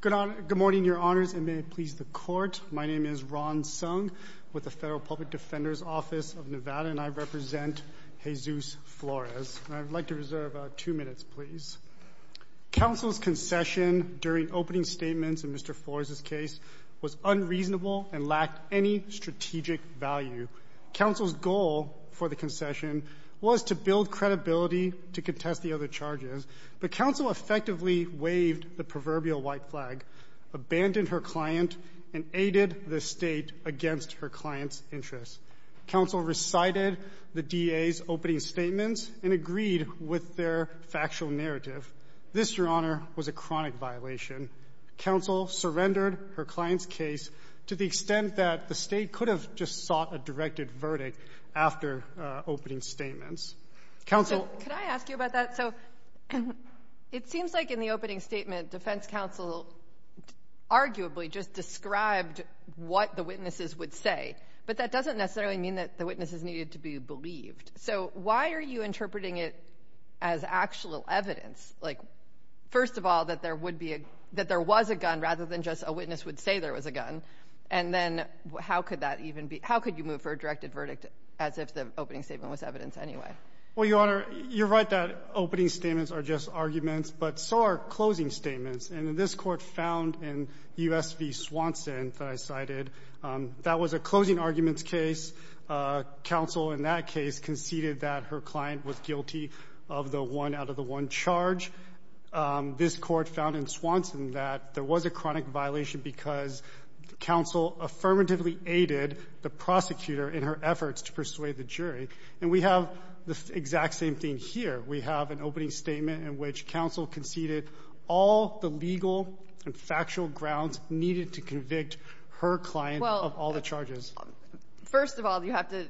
Good morning, your honors, and may it please the court. My name is Ron Sung with the Federal Public Defender's Office of Nevada, and I represent Jesus Flores. I'd like to reserve two minutes, please. Counsel's concession during opening statements in Mr. Flores' case was unreasonable and lacked any strategic value. Counsel's goal for the concession was to build credibility to contest the other charges, but counsel effectively waived the proverbial white flag, abandoned her client, and aided the State against her client's interests. Counsel recited the DA's opening statements and agreed with their factual narrative. This, your honor, was a chronic violation. Counsel surrendered her client's case to the extent that the State could have just sought a directed verdict after opening statements. Counsel Could I ask you about that? So it seems like in the opening statement, defense counsel arguably just described what the witnesses would say, but that doesn't necessarily mean that the witnesses needed to be believed. So why are you interpreting it as actual evidence? Like, first of all, that there would be a, that there was a gun rather than just a witness would say there was a gun, and then how could that even be, how could you move for a directed verdict as if the opening statement was evidence anyway? Well, your honor, you're right that opening statements are just arguments, but so are closing statements. And in this Court found in U.S. v. Swanson that I cited, that was a closing arguments case. Counsel in that case conceded that her client was guilty of the one-out-of-the-one charge. This Court found in Swanson that there was a chronic violation because counsel affirmatively aided the prosecutor in her efforts to persuade the jury. And we have the exact same thing here. We have an opening statement in which counsel conceded all the legal and factual grounds needed to convict her client of all the charges. Well, first of all, you have to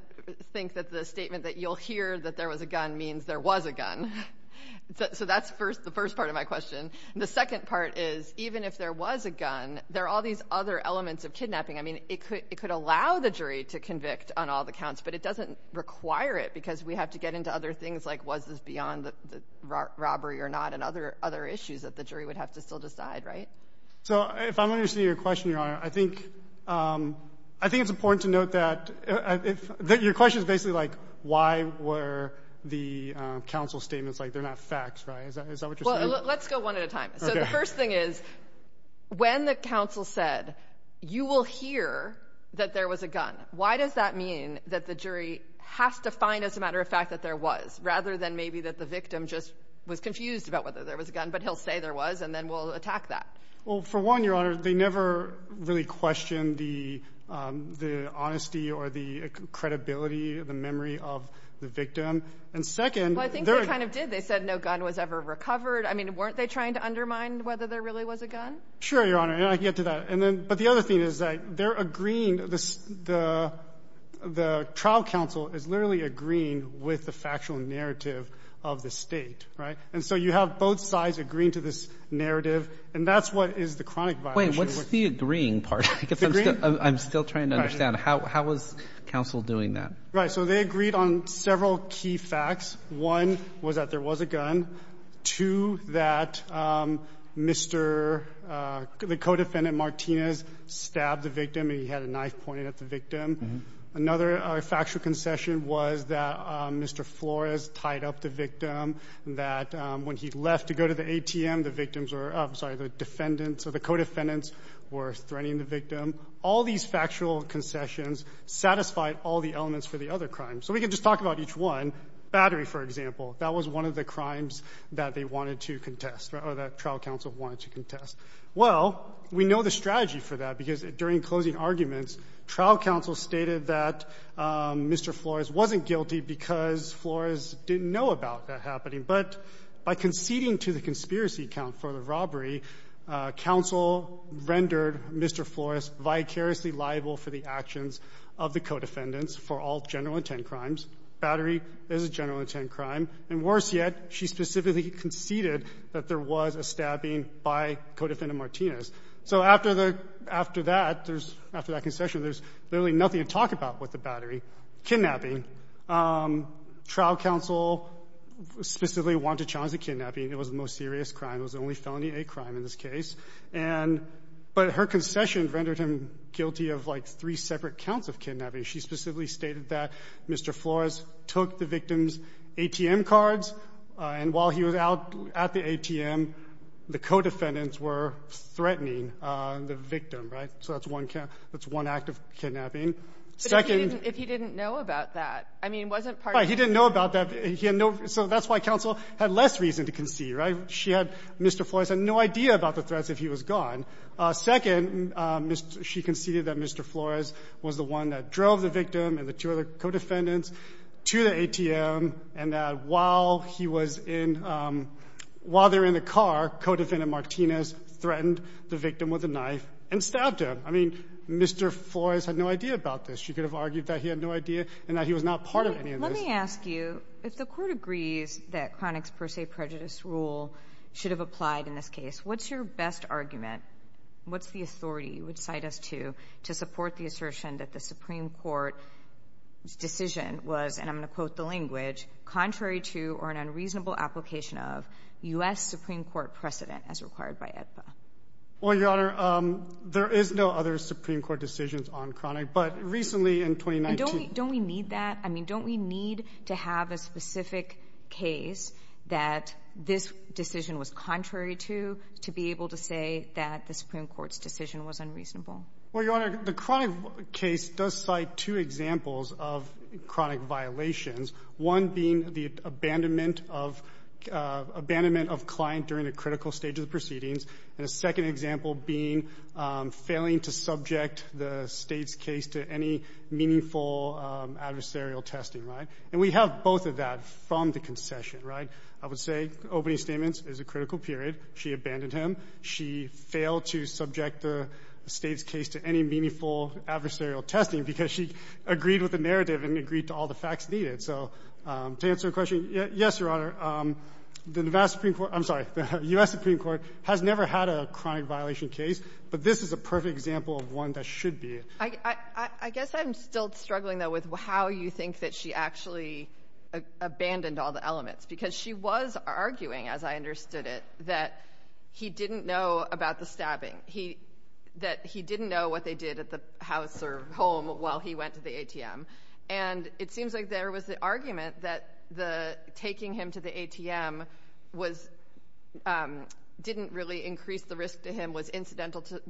think that the statement that you'll hear that there was a gun means there was a gun. So that's the first part of my question. The second part is, even if there was a gun, there are all these other elements of kidnapping. I mean, it could allow the jury to convict on all the counts, but it doesn't require it because we have to get into other things like was this beyond the robbery or not and other issues that the jury would have to still decide, right? So if I'm understanding your question, Your Honor, I think it's important to note that if the question is basically like why were the counsel statements like they're not facts, right? Is that what you're saying? Well, let's go one at a time. Okay. The first thing is, when the counsel said you will hear that there was a gun, why does that mean that the jury has to find, as a matter of fact, that there was, rather than maybe that the victim just was confused about whether there was a gun, but he'll say there was, and then we'll attack that? Well, for one, Your Honor, they never really questioned the honesty or the credibility or the memory of the victim. And second, there are — Well, I think they kind of did. They said no gun was ever recovered. I mean, weren't they trying to undermine whether there really was a gun? Sure, Your Honor. And I can get to that. And then — but the other thing is, like, they're agreeing — the trial counsel is literally agreeing with the factual narrative of the State, right? And so you have both sides agreeing to this narrative, and that's what is the chronic violation. Wait. What's the agreeing part? It's agreeing. I'm still trying to understand. How was counsel doing that? Right. So they agreed on several key facts. One was that there was a gun. Two, that Mr. — the co-defendant, Martinez, stabbed the victim, and he had a knife pointed at the victim. Another factual concession was that Mr. Flores tied up the victim, that when he left to go to the ATM, the victims were — I'm sorry, the defendants or the co-defendants were threatening the victim. All these factual concessions satisfied all the elements for the other crimes. So we can just talk about each one. Battery, for example, that was one of the crimes that they wanted to contest, or that trial counsel wanted to contest. Well, we know the strategy for that, because during closing arguments, trial counsel stated that Mr. Flores wasn't guilty because Flores didn't know about that happening. But by conceding to the conspiracy account for the robbery, counsel rendered Mr. Flores vicariously liable for the actions of the co-defendants for all general intent crimes. Battery is a general intent crime. And worse yet, she specifically conceded that there was a stabbing by the co-defendant, Martinez. So after the — after that, there's — after that concession, there's literally nothing to talk about with the Battery. Kidnapping. Trial counsel specifically wanted to challenge the kidnapping. It was the most serious crime. It was the only felony-A crime in this of, like, three separate counts of kidnapping. She specifically stated that Mr. Flores took the victim's ATM cards, and while he was out at the ATM, the co-defendants were threatening the victim, right? So that's one count. That's one act of kidnapping. Second — But if he didn't know about that, I mean, wasn't part of — Right. He didn't know about that. He had no — so that's why counsel had less reason to concede, right? She had — Mr. Flores had no idea about the threats if he was gone. Second, she conceded that Mr. Flores was the one that drove the victim and the two other co-defendants to the ATM, and that while he was in — while they were in the car, co-defendant Martinez threatened the victim with a knife and stabbed him. I mean, Mr. Flores had no idea about this. She could have argued that he had no idea and that he was not part of any of this. Let me ask you, if the Court agrees that Chronic's per se prejudice rule should have applied in this case, what's your best argument, what's the authority you would cite us to, to support the assertion that the Supreme Court's decision was, and I'm going to quote the language, contrary to or an unreasonable application of U.S. Supreme Court precedent as required by AEDPA? Well, Your Honor, there is no other Supreme Court decision on Chronic, but recently in 2019 — And don't we — don't we need that? I mean, don't we need to have a specific case that this decision was contrary to, to be able to say that the Supreme Court's decision was unreasonable? Well, Your Honor, the Chronic case does cite two examples of chronic violations, one being the abandonment of — abandonment of client during a critical stage of the proceedings, and a second example being failing to subject the State's case to any meaningful adversarial testing, right? And we have both of that from the concession, right? I would say opening statements is a critical period. She abandoned him. She failed to subject the State's case to any meaningful adversarial testing because she agreed with the narrative and agreed to all the facts needed. So to answer your question, yes, Your Honor, the U.S. Supreme Court — I'm sorry — the U.S. Supreme Court has never had a chronic violation case, but this is a perfect example of one that should be. I guess I'm still struggling, though, with how you think that she actually abandoned all the elements, because she was arguing, as I understood it, that he didn't know about the stabbing, he — that he didn't know what they did at the house or home while he went to the ATM. And it seems like there was the argument that the — taking him to the ATM was — didn't really increase the risk to him, was incidental to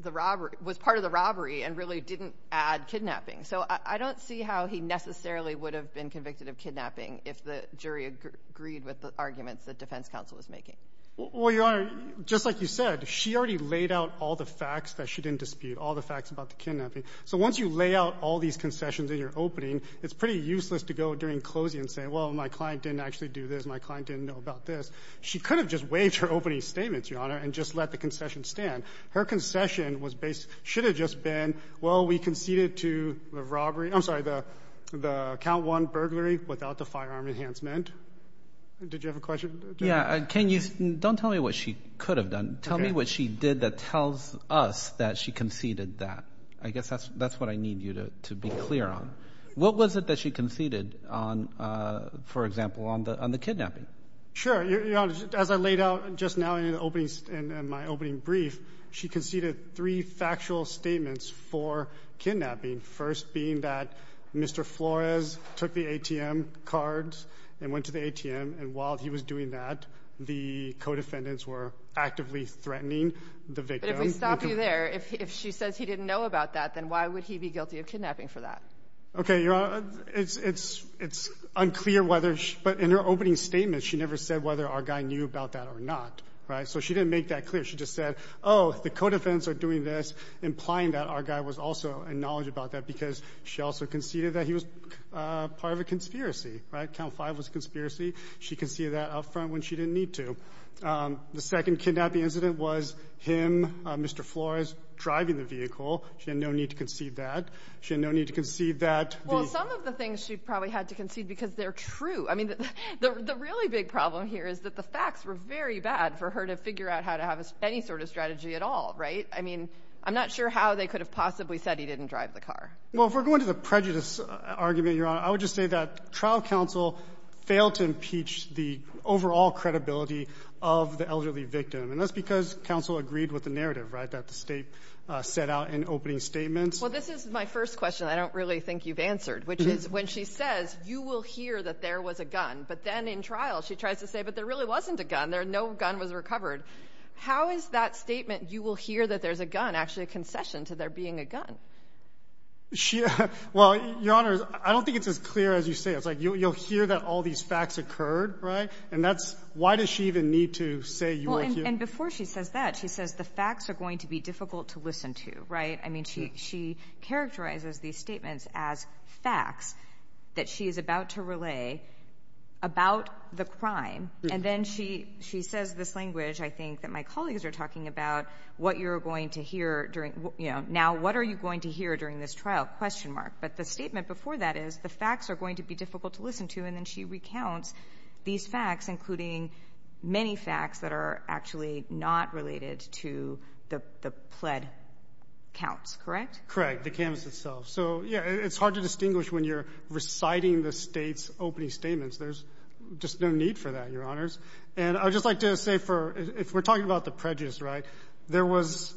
the robbery — was part of the robbery and really didn't add kidnapping. So I don't see how he necessarily would have been convicted of kidnapping if the jury agreed with the arguments that defense counsel was making. Well, Your Honor, just like you said, she already laid out all the facts that she didn't dispute, all the facts about the kidnapping. So once you lay out all these concessions in your opening, it's pretty useless to go during closing and say, well, my client didn't actually do this, my client didn't know about this. She could have just waived her opening statements, Your Honor, and just let the concession stand. Her concession was based — should have just been, well, we conceded to the robbery — I'm sorry, the — the count one burglary without the firearm enhancement. Did you have a question? Yeah. Can you — don't tell me what she could have done. Tell me what she did that tells us that she conceded that. I guess that's — that's what I need you to be clear on. What was it that she conceded on, for example, on the — on the kidnapping? Sure. Your Honor, as I laid out just now in the opening — in my opening brief, she conceded three factual statements for kidnapping, first being that Mr. Flores took the ATM cards and went to the ATM. And while he was doing that, the co-defendants were actively threatening the victim. But if we stop you there, if she says he didn't know about that, then why would he be guilty of kidnapping for that? Okay, Your Honor, it's — it's unclear whether — but in her opening statement, she never said whether our guy knew about that or not, right? So she didn't make that clear. She just said, oh, the co-defendants are doing this, implying that our guy was also in knowledge about that because she also conceded that he was part of a conspiracy, right? Count five was a conspiracy. She conceded that up front when she didn't need to. The second kidnapping incident was him, Mr. Flores, driving the vehicle. She had no need to concede that. She had no need to concede that. Well, some of the things she probably had to concede because they're true. I mean, the really big problem here is that the facts were very bad for her to figure out how to have any sort of strategy at all, right? I mean, I'm not sure how they could have possibly said he didn't drive the car. Well, if we're going to the prejudice argument, Your Honor, I would just say that trial counsel failed to impeach the overall credibility of the elderly victim. And that's because counsel agreed with the narrative, right, that the State set out in opening statements. Well, this is my first question I don't really think you've answered, which is when she says, you will hear that there was a gun. But then in trial, she tries to say, but there really wasn't a gun. No gun was recovered. How is that statement, you will hear that there's a gun, actually a concession to there being a gun? Well, Your Honor, I don't think it's as clear as you say. It's like you'll hear that all these facts occurred, right? And that's why does she even need to say you will hear? And before she says that, she says the facts are going to be difficult to listen to, right? I mean, she characterizes these statements as facts that she is about to relay about the crime. And then she says this language, I think, that my colleagues are talking about, what you're going to hear during, you know, now what are you going to hear during this trial, question mark. But the statement before that is the facts are going to be difficult to listen to. And then she recounts these facts, including many facts that are actually not related to the pled counts, correct? Correct. The canvas itself. So, yeah, it's hard to distinguish when you're reciting the state's opening statements. There's just no need for that, Your Honors. And I would just like to say for if we're talking about the prejudice, right, there was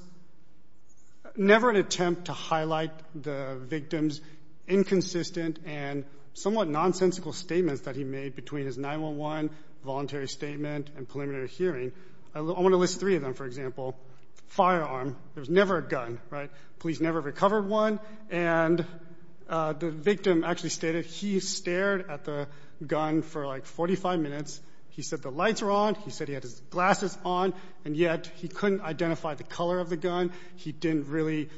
never an attempt to highlight the victim's inconsistent and somewhat nonsensical statements that he made between his 911 voluntary statement and preliminary hearing. I want to list three of them. For example, firearm. There was never a gun, right? Police never recovered one. And the victim actually stated he stared at the gun for like 45 minutes. He said the lights were on. He said he had his glasses on, and yet he couldn't identify the color of the gun. He didn't really.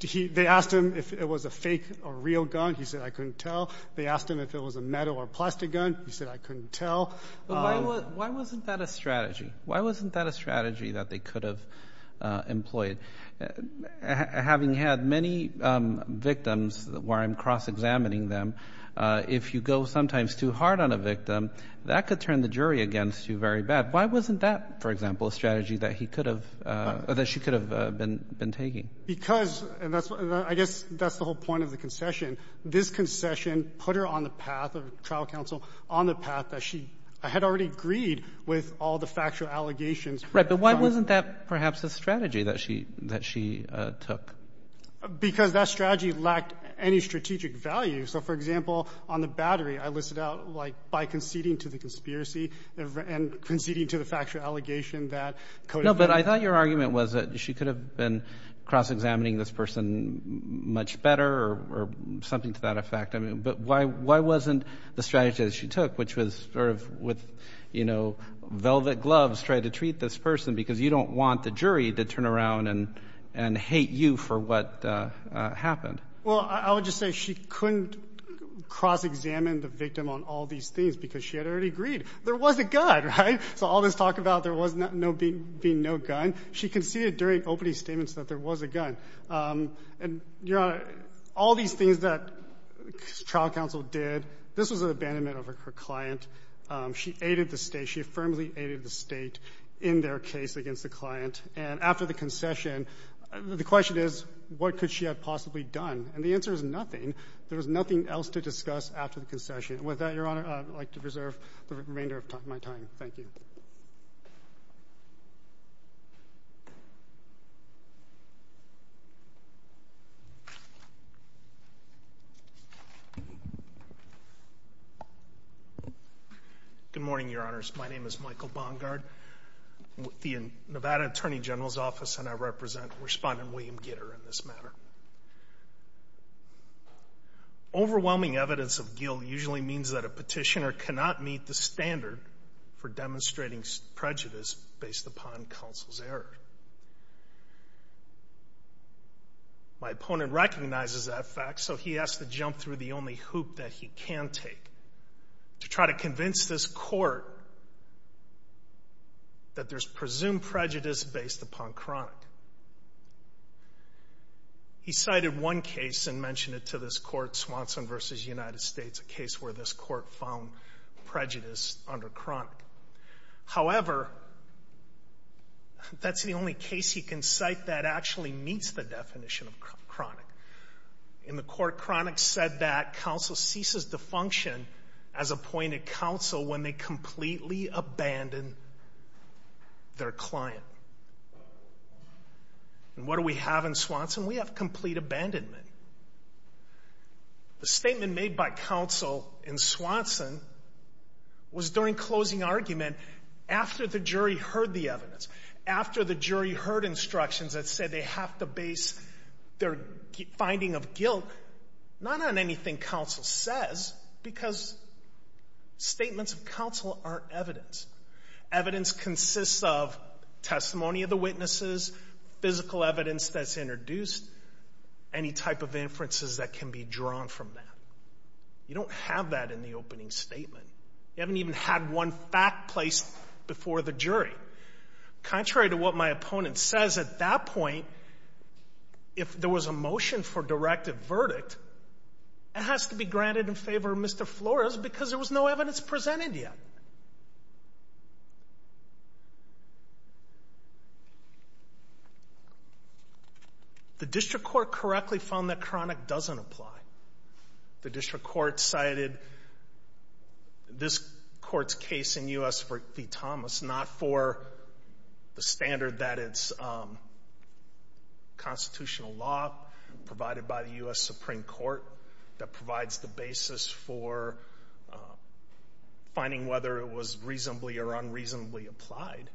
They asked him if it was a fake or real gun. He said, I couldn't tell. They asked him if it was a metal or plastic gun. He said, I couldn't tell. Why wasn't that a strategy? Why wasn't that a strategy that they could have employed? Having had many victims where I'm cross-examining them, if you go sometimes too hard on a victim, that could turn the jury against you very bad. Why wasn't that, for example, a strategy that he could have or that she could have been taking? Because, and I guess that's the whole point of the concession. This concession put her on the path of trial counsel, on the path that she had already agreed with all the factual allegations. Right, but why wasn't that perhaps a strategy that she took? Because that strategy lacked any strategic value. So, for example, on the battery, I listed out like by conceding to the conspiracy and conceding to the factual allegation that Cody. No, but I thought your argument was that she could have been cross-examining this person much better or something to that effect. I mean, but why wasn't the strategy that she took, which was sort of with, you know, velvet gloves trying to treat this person, because you don't want the jury to turn around and and hate you for what happened. Well, I would just say she couldn't cross-examine the victim on all these things because she had already agreed. There was a gun, right? So all this talk about there being no gun, she conceded during opening statements that there was a gun. And, Your Honor, all these things that trial counsel did, this was an abandonment of her client. She aided the State. She firmly aided the State in their case against the client. And after the concession, the question is, what could she have possibly done? And the answer is nothing. There was nothing else to discuss after the concession. And with that, Your Honor, I would like to reserve the remainder of my time. Thank you. Good morning, Your Honors. My name is Michael Bongard. I'm with the Nevada Attorney General's Office, and I represent Respondent William Gitter in this matter. Overwhelming evidence of guilt usually means that a petitioner cannot meet the standard for demonstrating prejudice based upon counsel's error. My opponent recognizes that fact, so he has to jump through the only hoop that he can take to try to convince this Court that there's presumed prejudice based upon chronic. He cited one case and mentioned it to this Court, Swanson v. United States, a case where this Court found prejudice under chronic. However, that's the only case he can cite that actually meets the definition of chronic. In the court, chronic said that counsel ceases to function as appointed counsel when they completely abandon their client. And what do we have in Swanson? We have complete abandonment. The statement made by counsel in Swanson was during closing argument, after the jury heard the evidence, after the jury heard instructions that said they have to base their finding of guilt not on anything counsel says, because statements of counsel aren't evidence. Evidence consists of testimony of the witnesses, physical evidence that's introduced, any type of inferences that can be drawn from that. You don't have that in the opening statement. You haven't even had one fact placed before the jury. Contrary to what my opponent says, at that point, if there was a motion for directive verdict, it has to be granted in favor of Mr. Flores because there was no evidence presented yet. The district court correctly found that chronic doesn't apply. The district court cited this court's case in U.S. v. Thomas, not for the standard that it's constitutional law provided by the U.S. Supreme Court that provides the basis for finding whether it was reasonably or unreasonably applied,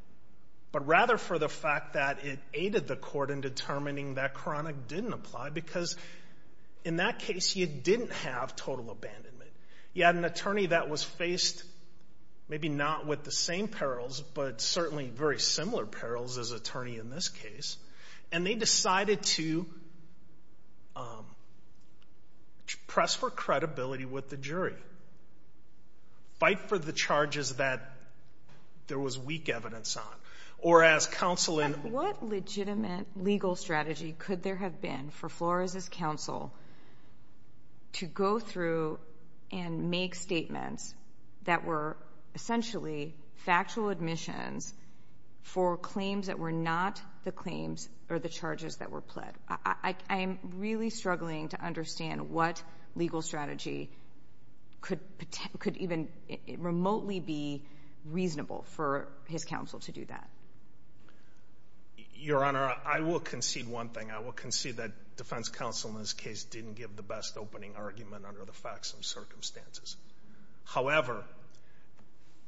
but rather for the fact that it aided the court in determining that chronic didn't apply because, in that case, you didn't have total abandonment. You had an attorney that was faced, maybe not with the same perils, but certainly very similar perils as attorney in this case, and they decided to press for credibility with the jury, fight for the charges that there was weak evidence on, or ask counsel in. What legitimate legal strategy could there have been for Flores' counsel to go through and make statements that were essentially factual admissions for claims that were not the claims or the charges that were pled? I'm really struggling to understand what legal strategy could even remotely be reasonable for his counsel to do that. Your Honor, I will concede one thing. I will concede that defense counsel in this case didn't give the best opening argument under the facts and circumstances. However,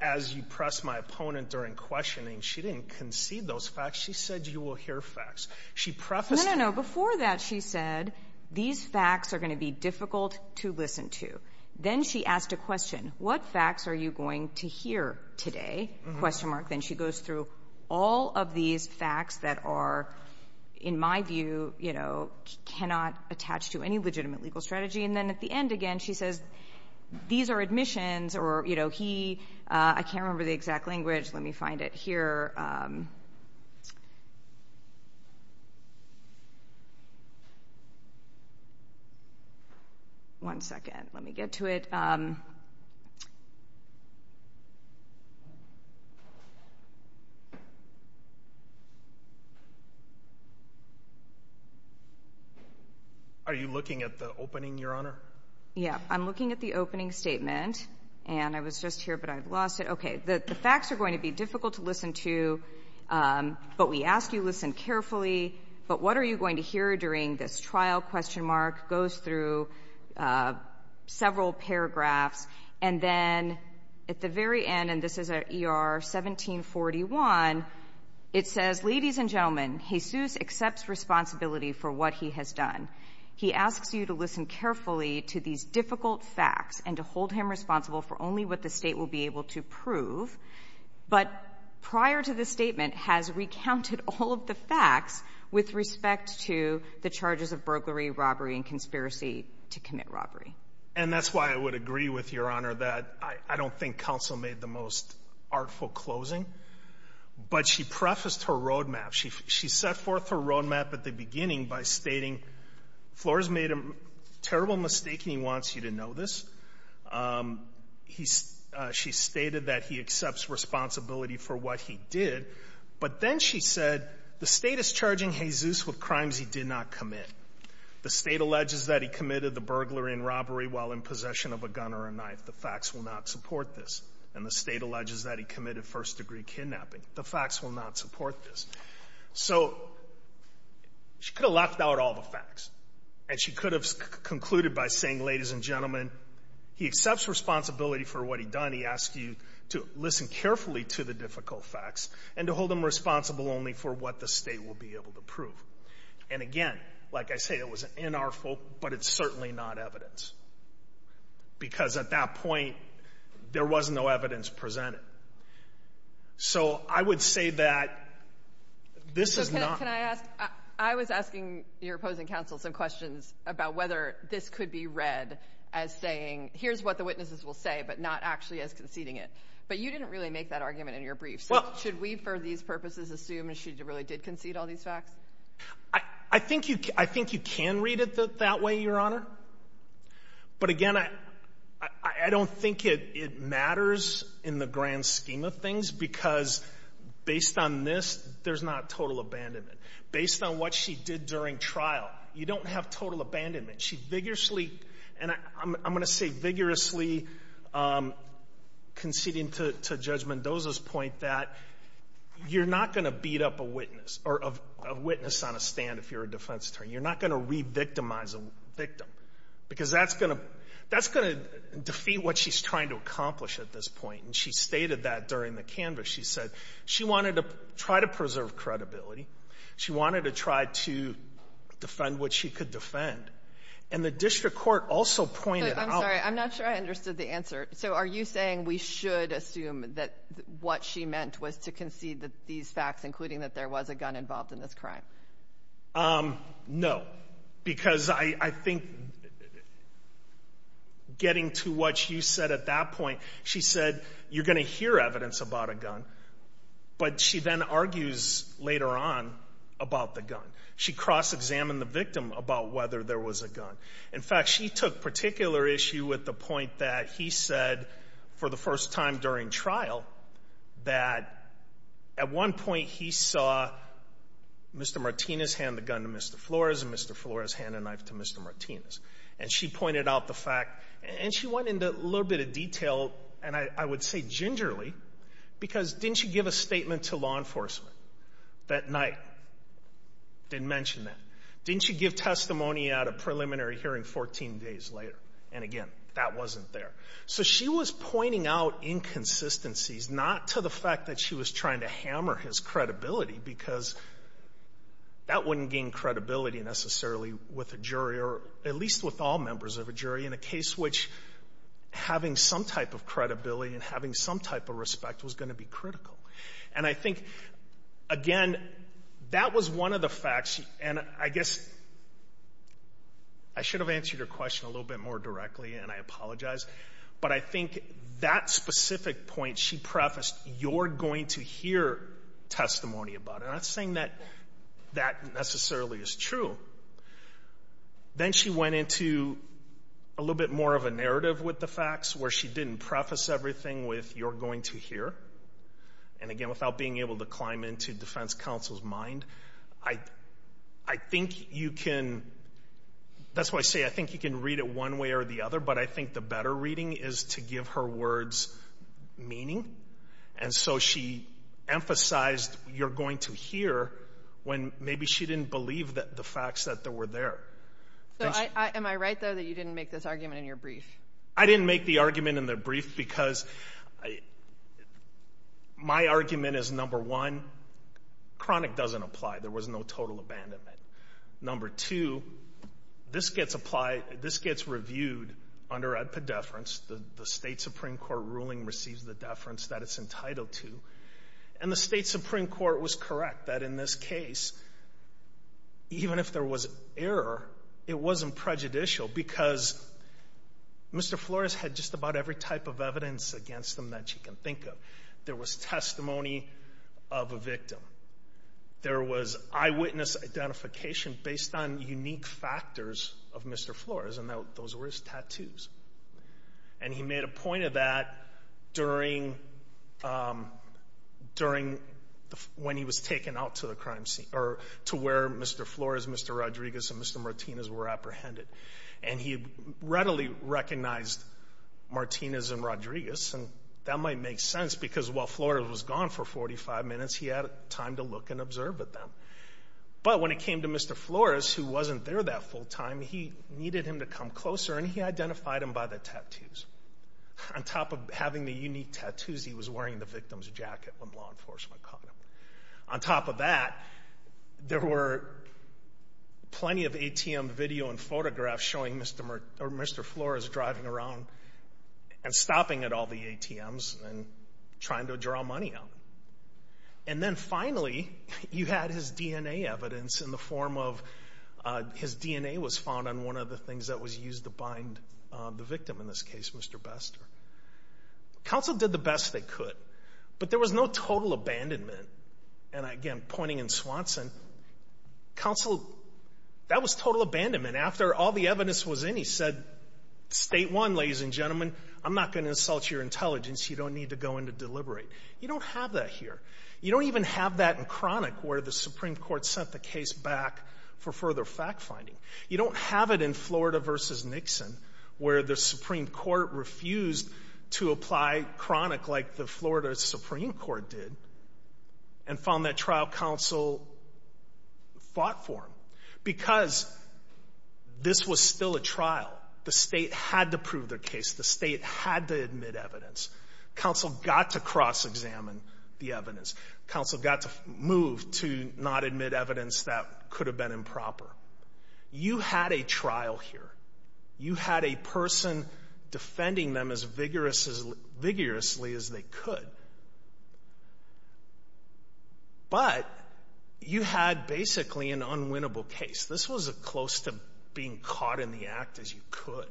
as you press my opponent during questioning, she didn't concede those facts. She said you will hear facts. She prefaced them. No, no, no. Before that, she said these facts are going to be difficult to listen to. Then she asked a question. What facts are you going to hear today, question mark. Then she goes through all of these facts that are, in my view, you know, cannot attach to any legitimate legal strategy. Then at the end, again, she says these are admissions or, you know, he, I can't remember the exact language. Let me find it here. One second. Let me get to it. Are you looking at the opening, Your Honor? Yeah, I'm looking at the opening statement, and I was just here, but I've lost it. Okay. The facts are going to be difficult to listen to, but we ask you listen carefully. But what are you going to hear during this trial, question mark, goes through several paragraphs. And then at the very end, and this is at ER 1741, it says, ladies and gentlemen, Jesus accepts responsibility for what he has done. He asks you to listen carefully to these difficult facts and to hold him responsible for only what the State will be able to prove. But prior to the statement has recounted all of the facts with respect to the charges of burglary, robbery, and conspiracy to commit robbery. And that's why I would agree with Your Honor that I don't think counsel made the most artful closing, but she prefaced her roadmap. She set forth her roadmap at the beginning by stating Flores made a terrible mistake, and he wants you to know this. She stated that he accepts responsibility for what he did, but then she said, the State is charging Jesus with crimes he did not commit. The State alleges that he committed the burglary and robbery while in possession of a gun or a knife. The facts will not support this. And the State alleges that he committed first degree kidnapping. The facts will not support this. So she could have left out all the facts, and she could have concluded by saying, ladies and gentlemen, he accepts responsibility for what he done. He asked you to listen carefully to the difficult facts and to hold him responsible only for what the State will be able to prove. And again, like I say, it was an inartful, but it's certainly not evidence. Because at that point, there was no evidence presented. So I would say that this is not... And I asked, I was asking your opposing counsel some questions about whether this could be read as saying, here's what the witnesses will say, but not actually as conceding it. But you didn't really make that argument in your brief. So should we, for these purposes, assume that she really did concede all these facts? I think you can read it that way, Your Honor. But again, I don't think it matters in the grand scheme of things, because based on this, there's not total abandonment. Based on what she did during trial, you don't have total abandonment. She vigorously... And I'm going to say vigorously conceding to Judge Mendoza's point that you're not going to beat up a witness or a witness on a stand if you're a defense attorney. You're not going to re-victimize a victim, because that's going to defeat what she's trying to accomplish at this point. And she stated that during the canvas. She said she wanted to try to preserve credibility. She wanted to try to defend what she could defend. And the district court also pointed out... I'm sorry. I'm not sure I understood the answer. So are you saying we should assume that what she meant was to concede these facts, including that there was a gun involved in this crime? No. Because I think getting to what you said at that point, she said you're going to hear evidence about a gun, but she then argues later on about the gun. She cross-examined the victim about whether there was a gun. In fact, she took particular issue with the point that he said for the first time during trial that at one point he saw Mr. Martinez hand the gun to Mr. Flores and Mr. Flores hand a knife to Mr. Martinez. And she pointed out the fact... And she went into a little bit of detail, and I would say gingerly, because didn't she give a statement to law enforcement that night? Didn't mention that. Didn't she give testimony at a preliminary hearing 14 days later? And again, that wasn't there. So she was pointing out inconsistencies, not to the fact that she was trying to hammer his credibility, because that wouldn't gain credibility necessarily with a jury, or at least with all members of a jury, in a case which having some type of credibility and having some type of respect was going to be critical. And I think, again, that was one of the facts. And I guess I should have answered your question a little bit more directly, and I apologize, but I think that specific point she prefaced, you're going to hear testimony about it. I'm not saying that that necessarily is true. Then she went into a little bit more of a narrative with the facts, where she didn't preface everything with, you're going to hear. And again, without being able to climb into defense counsel's mind, I think you can... That's why I say, I think you can read it one way or the other, but I think the better reading is to give her words meaning. And so she emphasized, you're going to hear, when maybe she didn't believe the facts that were there. So, am I right, though, that you didn't make this argument in your brief? I didn't make the argument in the brief because my argument is, number one, chronic doesn't apply. There was no total abandonment. Number two, this gets applied, this gets reviewed under ad pediferance. The state Supreme Court ruling receives the deference that it's entitled to. And the state Supreme Court was correct that in this case, even if there was error, it wasn't prejudicial because Mr. Flores had just about every type of evidence against him that you can think of. There was testimony of a victim. There was eyewitness identification based on unique factors of Mr. Flores, and those were his tattoos. And he made a point of that during when he was taken out to the crime scene, or to where Mr. Flores, Mr. Rodriguez, and Mr. Martinez were apprehended. And he readily recognized Martinez and Rodriguez, and that might make sense because while Flores was gone for 45 minutes, he had time to look and observe at them. But when it came to Mr. Flores, who wasn't there that full time, he needed him to come closer, and he identified him by the tattoos. On top of having the unique tattoos, he was wearing the victim's jacket when law enforcement caught him. On top of that, there were plenty of ATM video and photographs showing Mr. Flores driving around and stopping at all the ATMs and trying to draw money out. And then finally, you had his DNA evidence in the form of his DNA was found on one of the things that was used to bind the victim in this case, Mr. Bester. Counsel did the best they could, but there was no total abandonment. And again, pointing in Swanson, counsel, that was total abandonment. After all the evidence was in, he said, state one, ladies and gentlemen, I'm not going to insult your intelligence. You don't need to go in to deliberate. You don't have that here. You don't even have that in chronic where the Supreme Court sent the case back for further fact finding. You don't have it in Florida versus Nixon where the Supreme Court refused to apply chronic like the Florida Supreme Court did and found that trial counsel fought for him. Because this was still a trial. The state had to prove their case. The state had to admit evidence. Counsel got to cross-examine the evidence. Counsel got to move to not admit evidence that could have been improper. You had a trial here. You had a person defending them as vigorously as they could. But you had basically an unwinnable case. This was as close to being caught in the act as you could.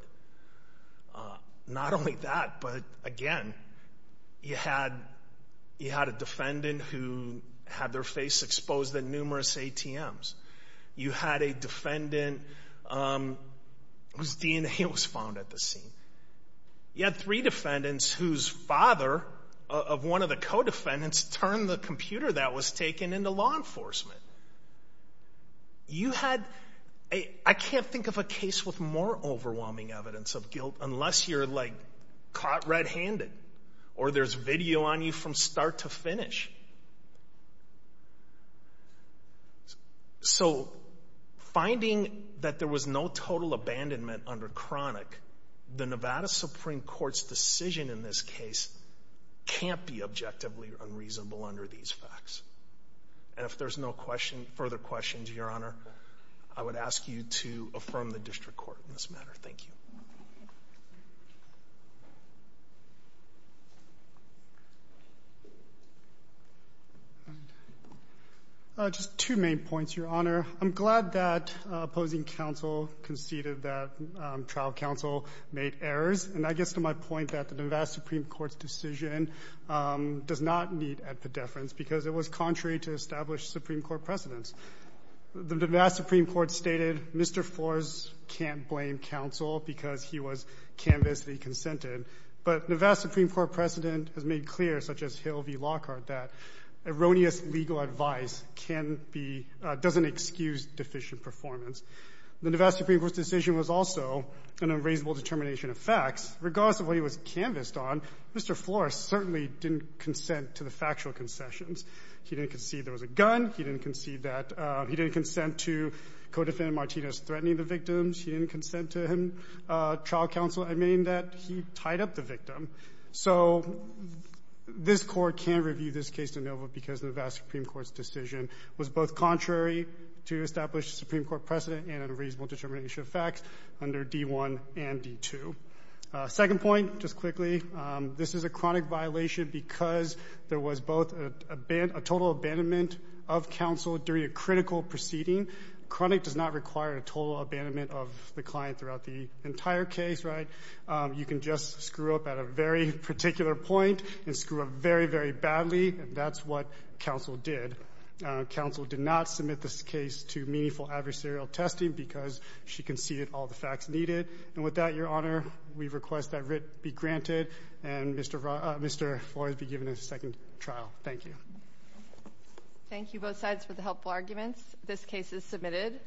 Not only that, but again, you had a defendant who had their face exposed at numerous ATMs. You had a defendant whose DNA was found at the scene. You had three defendants whose father of one of the co-defendants turned the computer that was taken into law enforcement. I can't think of a case with more overwhelming evidence of guilt unless you're like caught red-handed or there's video on you from start to finish. So finding that there was no total abandonment under chronic, the Nevada Supreme Court's decision in this case can't be objectively unreasonable under these facts. And if there's no question, further questions, Your Honor, I would ask you to affirm the district court in this matter. Thank you. Just two main points, Your Honor. I'm glad that opposing counsel conceded that trial counsel made errors. And I guess to my point that the Nevada Supreme Court's decision does not need to add pedeference because it was contrary to established Supreme Court precedents. The Nevada Supreme Court stated Mr. Flores can't blame counsel because he was canvassed and he consented. But Nevada Supreme Court precedent has made clear, such as Hill v. Lockhart, that erroneous legal advice can be — doesn't excuse deficient performance. The Nevada Supreme Court's decision was also an unravelable determination of facts. Regardless of what he was canvassed on, Mr. Flores certainly didn't consent to the factual concessions. He didn't concede there was a gun. He didn't concede that — he didn't consent to co-defendant Martinez threatening the victims. He didn't consent to him — trial counsel admitting that he tied up the victim. So this Court can't review this case in Nevada because the Nevada Supreme Court's decision was both contrary to established Supreme Court precedent and unreasonable determination of facts under D1 and D2. Second point, just quickly. This is a chronic violation because there was both a — a total abandonment of counsel during a critical proceeding. Chronic does not require a total abandonment of the client throughout the entire case, right? You can just screw up at a very particular point and screw up very, very badly, and that's what counsel did. Counsel did not submit this case to meaningful adversarial testing because she conceded all the facts needed. And with that, Your Honor, we request that writ be granted and Mr. — Mr. Flores be given a second trial. Thank you. Thank you, both sides, for the helpful arguments. This case is submitted.